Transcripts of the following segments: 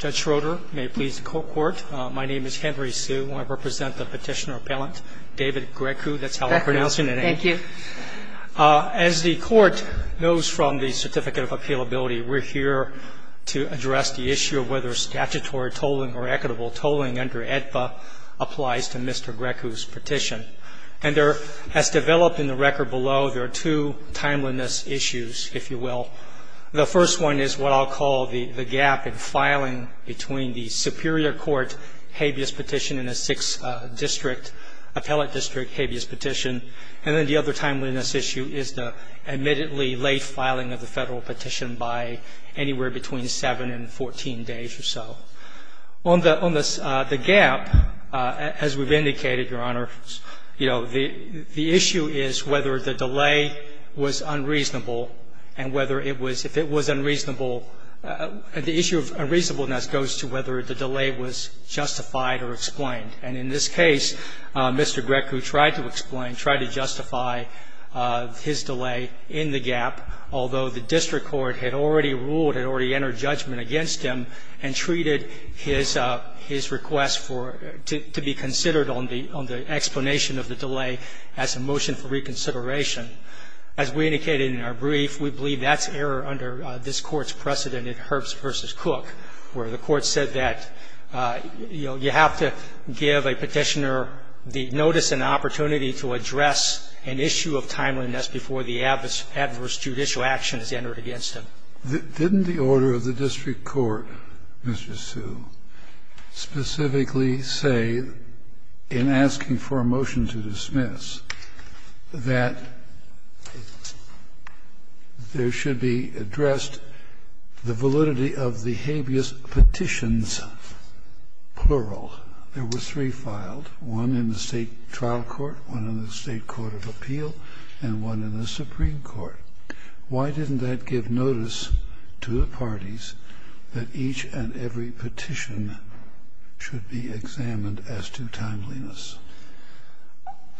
Judge Schroeder, may it please the Court, my name is Henry Hsu and I represent the Petitioner-Appellant David Grecu, that's how I pronounce your name. Thank you. As the Court knows from the Certificate of Appealability, we're here to address the issue of whether statutory tolling or equitable tolling under AEDPA applies to Mr. Grecu's petition. And as developed in the record below, there are two timeliness issues, if you will. The first one is what I'll call the gap in filing between the Superior Court habeas petition and a Sixth District, Appellate District habeas petition. And then the other timeliness issue is the admittedly late filing of the federal petition by anywhere between seven and 14 days or so. On the gap, as we've indicated, Your Honor, you know, the issue is whether the delay was unreasonable and whether it was, if it was unreasonable, the issue of unreasonableness goes to whether the delay was justified or explained. And in this case, Mr. Grecu tried to explain, tried to justify his delay in the gap, although the district court had already ruled, had already entered judgment against him, and treated his request for, to be considered on the explanation of the delay as a motion for reconsideration. As we indicated in our brief, we believe that's error under this Court's precedent at Herbst v. Cook, where the Court said that, you know, you have to give a petitioner the notice and opportunity to address an issue of timeliness before the adverse judicial action is entered against him. Did the order of the district court, Mr. Hsu, specifically say, in asking for a motion to dismiss, that there should be addressed the validity of the habeas petitions, plural? There were three filed, one in the State trial court, one in the State court of appeal, and one in the Supreme Court. Why didn't that give notice to the parties that each and every petition should be examined as to timeliness?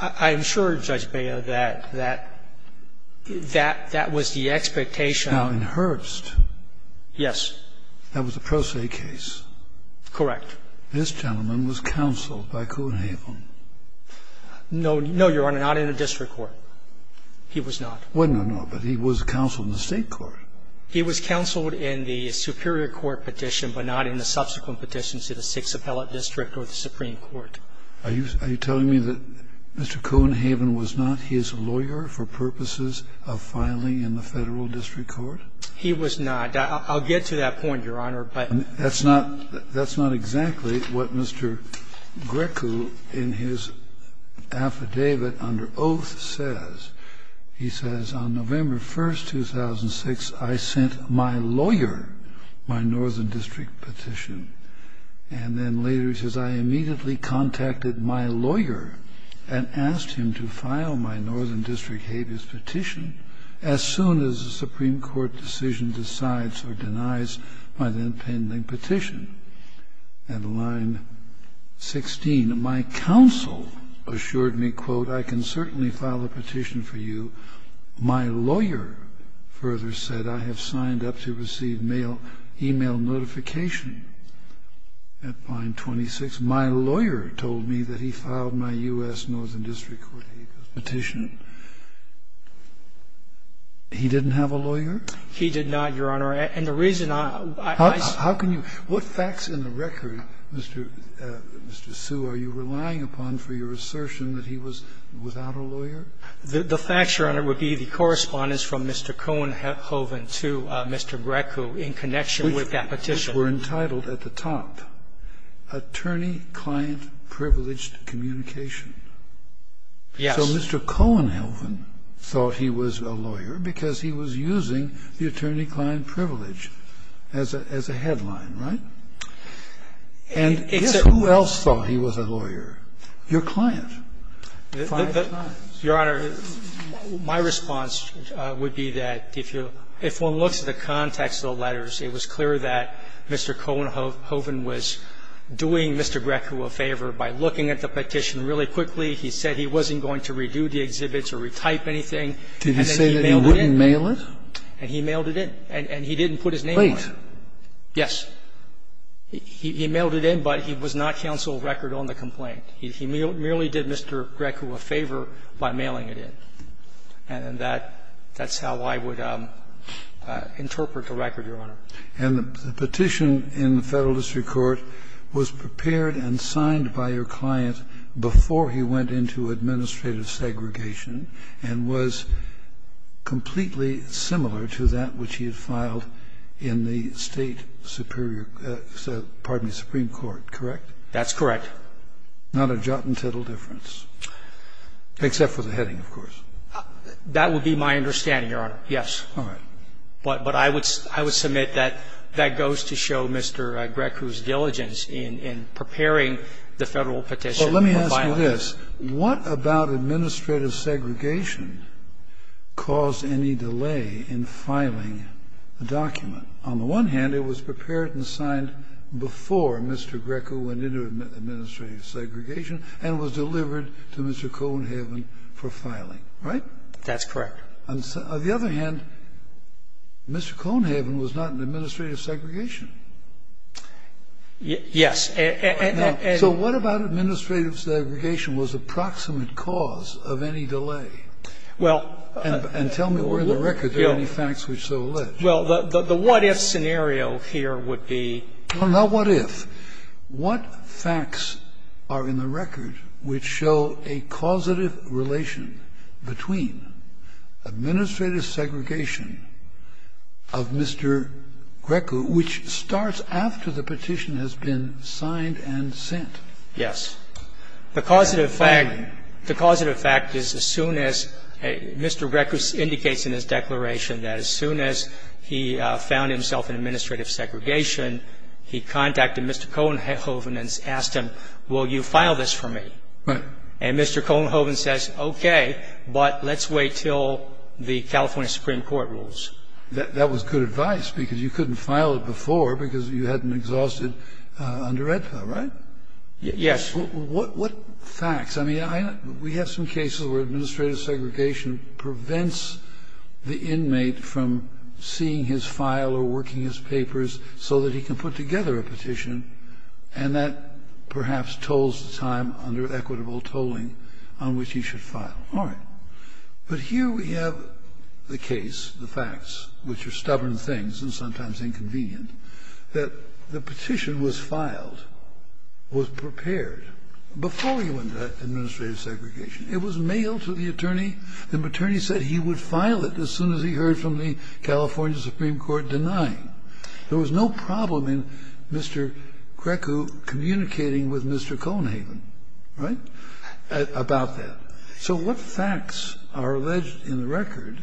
I'm sure, Judge Beyer, that that was the expectation. Now, in Herbst. Yes. That was a pro se case. Correct. This gentleman was counseled by Coonhaven. No, Your Honor, not in a district court. He was not. Well, no, no, but he was counseled in the State court. He was counseled in the superior court petition, but not in the subsequent petitions to the Sixth Appellate District or the Supreme Court. Are you telling me that Mr. Coonhaven was not his lawyer for purposes of filing in the Federal district court? He was not. I'll get to that point, Your Honor, but. That's not exactly what Mr. Greco in his affidavit under oath says. He says, on November 1, 2006, I sent my lawyer my Northern District petition. And then later he says, I immediately contacted my lawyer and asked him to file my Northern District habeas petition as soon as the Supreme Court decision decides or denies my then pending petition. And line 16, my counsel assured me, quote, I can certainly file a petition for you. My lawyer further said I have signed up to receive mail, e-mail notification at line 26. My lawyer told me that he filed my U.S. Northern District court habeas petition. He didn't have a lawyer? He did not, Your Honor, and the reason I. How can you? What facts in the record, Mr. Sue, are you relying upon for your assertion that he was without a lawyer? The facts, Your Honor, would be the correspondence from Mr. Cohenhoven to Mr. Greco in connection with that petition. Which were entitled at the top, Attorney-Client Privileged Communication. Yes. So Mr. Cohenhoven thought he was a lawyer because he was using the attorney-client privilege as a headline, right? And guess who else thought he was a lawyer? Your client. Your Honor, my response would be that if you, if one looks at the context of the letters, it was clear that Mr. Cohenhoven was doing Mr. Greco a favor by looking at the petition really quickly. He said he wasn't going to redo the exhibits or retype anything. Did he say that he wouldn't mail it? And he mailed it in. And he didn't put his name on it. Wait. Yes. He mailed it in, but he was not counsel of record on the complaint. He merely did Mr. Greco a favor by mailing it in. And that's how I would interpret the record, Your Honor. And the petition in the Federal District Court was prepared and signed by your client before he went into administrative segregation and was completely similar to that which he had filed in the State Superior, pardon me, Supreme Court, correct? That's correct. Not a jot and tittle difference, except for the heading, of course. That would be my understanding, Your Honor. Yes. All right. But I would submit that that goes to show Mr. Greco's diligence in preparing the Federal petition for filing. Well, let me ask you this. What about administrative segregation caused any delay in filing the document? On the one hand, it was prepared and signed before Mr. Greco went into administrative segregation and was delivered to Mr. Conehaven for filing, right? That's correct. On the other hand, Mr. Conehaven was not in administrative segregation. Yes. So what about administrative segregation was the proximate cause of any delay? Well ---- And tell me where in the record there are any facts which so allege. Well, the what-if scenario here would be. Well, not what-if. What facts are in the record which show a causative relation between administrative segregation of Mr. Greco, which starts after the petition has been signed and sent? Yes. The causative fact is as soon as Mr. Greco indicates in his declaration that as soon as he found himself in administrative segregation, he contacted Mr. Conehaven and asked him, will you file this for me? Right. And Mr. Conehaven says, okay, but let's wait until the California Supreme Court rules. That was good advice because you couldn't file it before because you hadn't exhausted under EDPA, right? Yes. What facts? I mean, we have some cases where administrative segregation prevents the inmate from seeing his file or working his papers so that he can put together a petition and that perhaps tolls the time under equitable tolling on which he should file. All right. But here we have the case, the facts, which are stubborn things and sometimes inconvenient, that the petition was filed, was prepared before you went to administrative segregation. It was mailed to the attorney. The attorney said he would file it as soon as he heard from the California Supreme Court denying. There was no problem in Mr. Greco communicating with Mr. Conehaven, right, about that. So what facts are alleged in the record,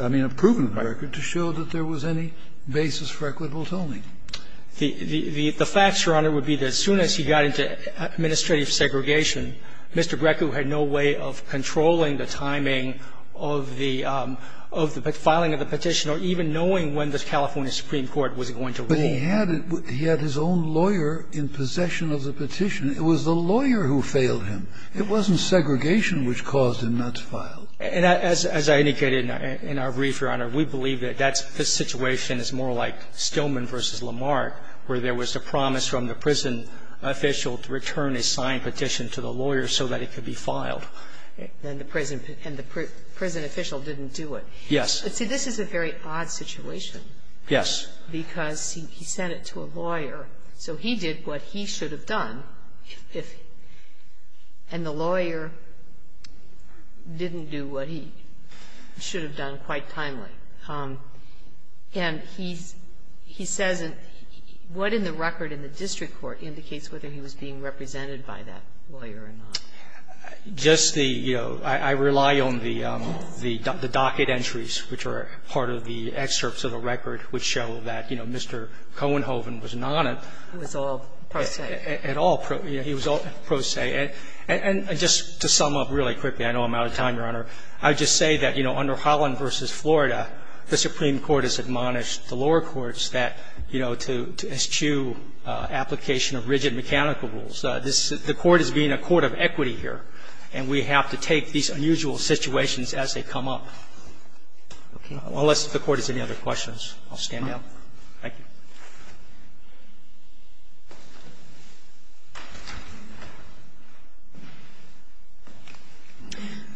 I mean, proven in the record, to show that there was any basis for equitable tolling? The facts, Your Honor, would be that as soon as he got into administrative segregation, Mr. Greco had no way of controlling the timing of the filing of the petition or even knowing when the California Supreme Court was going to rule. But he had his own lawyer in possession of the petition. It was the lawyer who failed him. It wasn't segregation which caused him not to file. And as I indicated in our brief, Your Honor, we believe that that's the situation is more like Stillman v. Lamarck, where there was a promise from the prison official to return a signed petition to the lawyer so that it could be filed. And the prison official didn't do it. Yes. See, this is a very odd situation. Yes. Because he sent it to a lawyer, so he did what he should have done. And the lawyer didn't do what he should have done quite timely. And he says what in the record in the district court indicates whether he was being represented by that lawyer or not? Just the, you know, I rely on the docket entries, which are part of the excerpts of a record which show that, you know, Mr. Cohenhoven was not at all present. He was all pro se. And just to sum up really quickly, I know I'm out of time, Your Honor. I would just say that, you know, under Holland v. Florida, the Supreme Court has admonished the lower courts that, you know, to eschew application of rigid mechanical rules. The Court is being a court of equity here, and we have to take these unusual situations as they come up. Okay. Unless the Court has any other questions, I'll stand down. Thank you.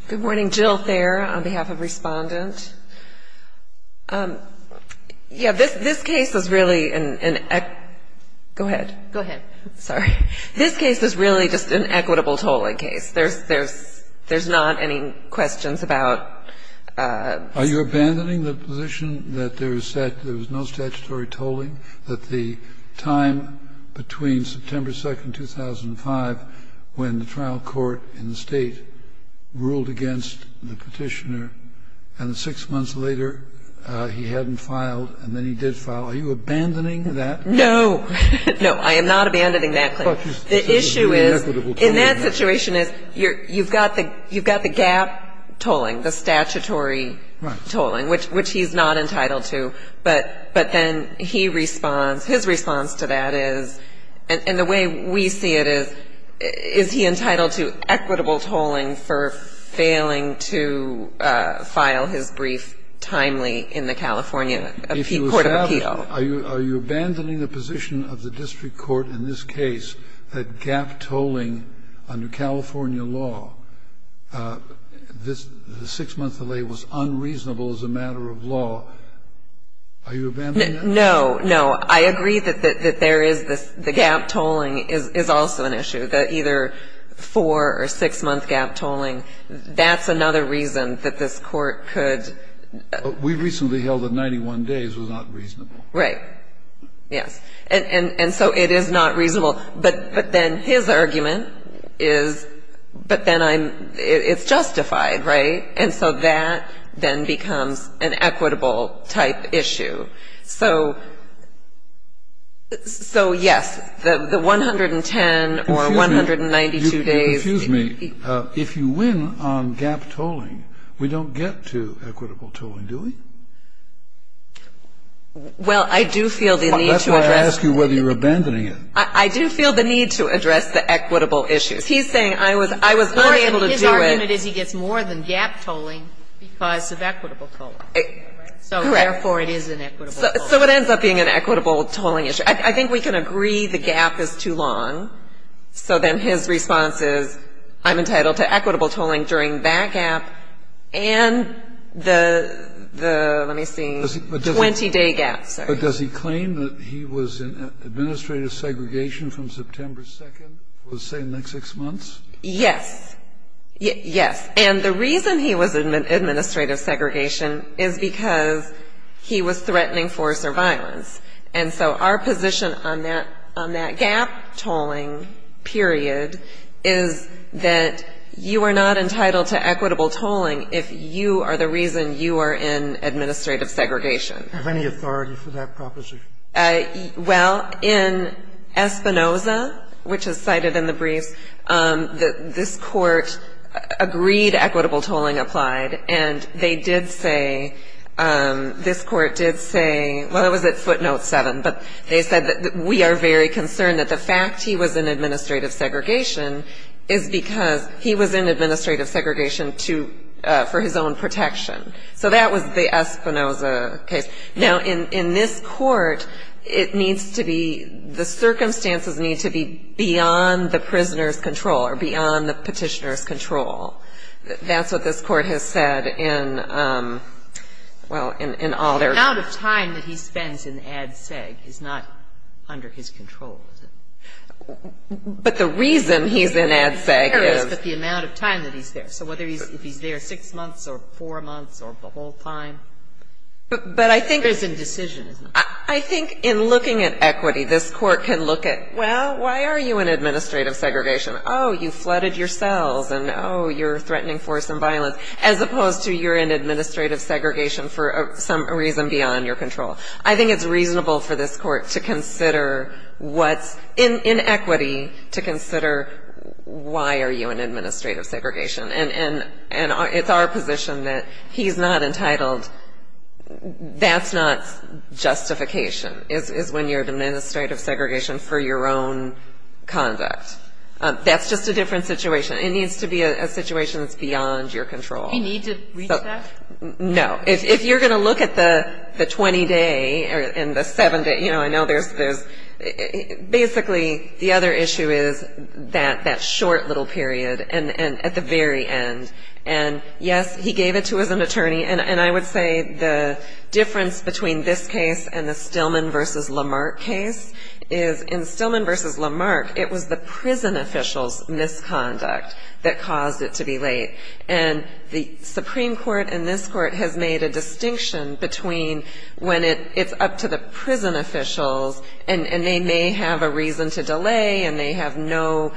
Good morning. Jill Thayer on behalf of Respondent. Yeah. This case is really an equitable tolling case. There's not any questions about the statute. There was no statutory tolling that the time between September 2nd, 2005, when the trial court in the State ruled against the Petitioner, and six months later, he hadn't filed, and then he did file. Are you abandoning that? No. No, I am not abandoning that claim. The issue is, in that situation is, you've got the gap tolling, the statutory tolling, which he's not entitled to. But then he responds. His response to that is, and the way we see it is, is he entitled to equitable tolling for failing to file his brief timely in the California Court of Appeal? Are you abandoning the position of the district court in this case that gap tolling under California law, this six-month delay was unreasonable as a matter of law? Are you abandoning that? No. No. I agree that there is this the gap tolling is also an issue, that either four- or six-month gap tolling, that's another reason that this court could. We recently held that 91 days was not reasonable. Right. Yes. And so it is not reasonable. But then his argument is, but then I'm, it's justified, right? And so that then becomes an equitable-type issue. So, yes, the 110 or 192 days. Excuse me. If you win on gap tolling, we don't get to equitable tolling, do we? Well, I do feel the need to address. That's why I ask you whether you're abandoning it. I do feel the need to address the equitable issues. He's saying I was unable to do it. His argument is he gets more than gap tolling because of equitable tolling. Correct. So, therefore, it is an equitable tolling. So it ends up being an equitable tolling issue. I think we can agree the gap is too long. So then his response is, I'm entitled to equitable tolling during that gap and the 20-day gap. But does he claim that he was in administrative segregation from September 2nd, let's say the next six months? Yes. Yes. And the reason he was in administrative segregation is because he was threatening force or violence. And so our position on that gap tolling period is that you are not entitled to equitable tolling if you are the reason you are in administrative segregation. Do you have any authority for that proposition? Well, in Espinoza, which is cited in the briefs, this Court agreed equitable tolling applied, and they did say, this Court did say, well, it was at footnote 7, but they said that we are very concerned that the fact he was in administrative segregation is because he was in administrative segregation for his own protection. So that was the Espinoza case. Now, in this Court, it needs to be, the circumstances need to be beyond the prisoner's control or beyond the Petitioner's control. That's what this Court has said in, well, in all their. The amount of time that he spends in Ad Seg is not under his control, is it? But the reason he's in Ad Seg is. It's just the amount of time that he's there. So whether he's, if he's there six months or four months or the whole time. But I think. There's indecision, isn't there? I think in looking at equity, this Court can look at, well, why are you in administrative segregation? Oh, you flooded your cells, and, oh, you're threatening force and violence, as opposed to you're in administrative segregation for some reason beyond your control. I think it's reasonable for this Court to consider what's in equity to consider why are you in administrative segregation. And it's our position that he's not entitled, that's not justification, is when you're in administrative segregation for your own conduct. That's just a different situation. It needs to be a situation that's beyond your control. You need to reach that? No. If you're going to look at the 20-day and the 7-day, you know, I know there's, basically, the other issue is that short little period and at the very end. And, yes, he gave it to his attorney. And I would say the difference between this case and the Stillman v. Lamarck case is in Stillman v. Lamarck, it was the prison officials' misconduct that caused it to be late. And the Supreme Court and this Court has made a distinction between when it's up to the prison officials and they may have a reason to delay and they have no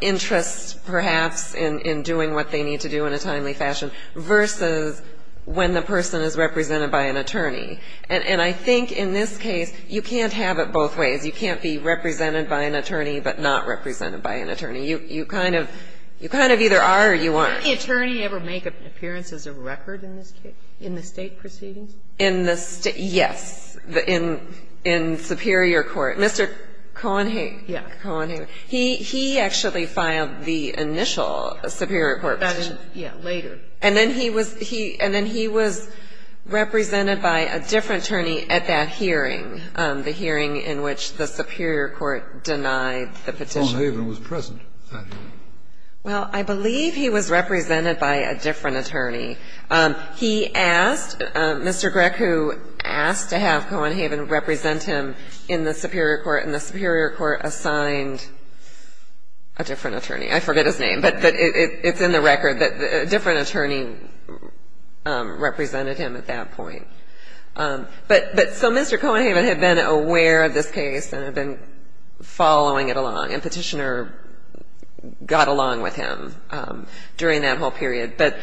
interest perhaps in doing what they need to do in a timely fashion versus when the person is represented by an attorney. And I think in this case you can't have it both ways. You can't be represented by an attorney but not represented by an attorney. You kind of either are or you aren't. Did any attorney ever make appearances of record in this case, in the State proceedings? Yes. In Superior Court. Mr. Conehaven. Yes. Conehaven. He actually filed the initial Superior Court petition. Yes, later. And then he was represented by a different attorney at that hearing, the hearing in which the Superior Court denied the petition. Conehaven was present at that hearing. Well, I believe he was represented by a different attorney. He asked, Mr. Greco asked to have Conehaven represent him in the Superior Court and the Superior Court assigned a different attorney. I forget his name but it's in the record that a different attorney represented him at that point. But so Mr. Conehaven had been aware of this case and had been following it along and Petitioner got along with him during that whole period. But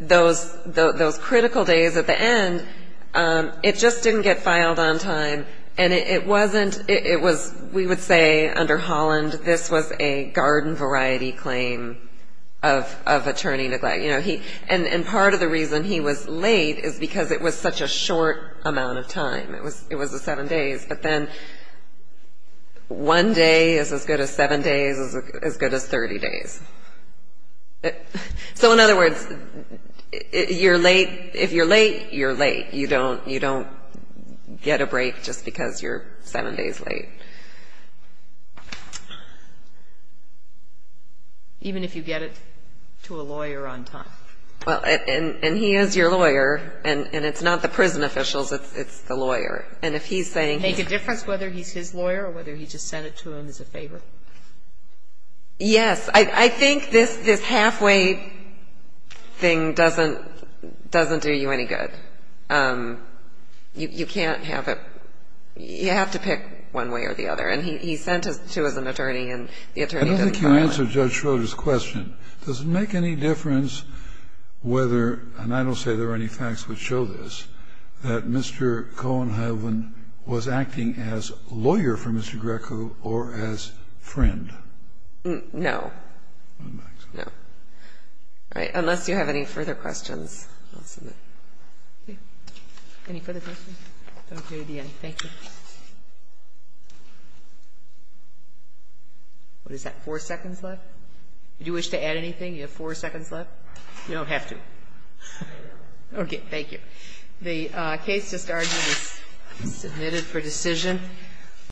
those critical days at the end, it just didn't get filed on time and it wasn't, it was, we would say under Holland, this was a garden variety claim of attorney neglect. And part of the reason he was late is because it was such a short amount of time. It was the seven days. But then one day is as good as seven days is as good as 30 days. So in other words, you're late, if you're late, you're late. You don't get a break just because you're seven days late. Even if you get it to a lawyer on time. Well, and he is your lawyer and it's not the prison officials, it's the lawyer. And if he's saying he's Make a difference whether he's his lawyer or whether he just sent it to him as a favor? Yes. I think this halfway thing doesn't do you any good. You can't have it, you have to pick one way or the other. And he sent it to an attorney and the attorney didn't file it. I don't think you answered Judge Schroeder's question. Does it make any difference whether, and I don't say there are any facts which show this, that Mr. Cohen-Hyland was acting as lawyer for Mr. Greco or as friend? No. No. All right. Unless you have any further questions, I'll submit. Okay. Any further questions? Thank you. What is that, four seconds left? Would you wish to add anything? You have four seconds left? You don't have to. Okay. Thank you. The case just argued is submitted for decision.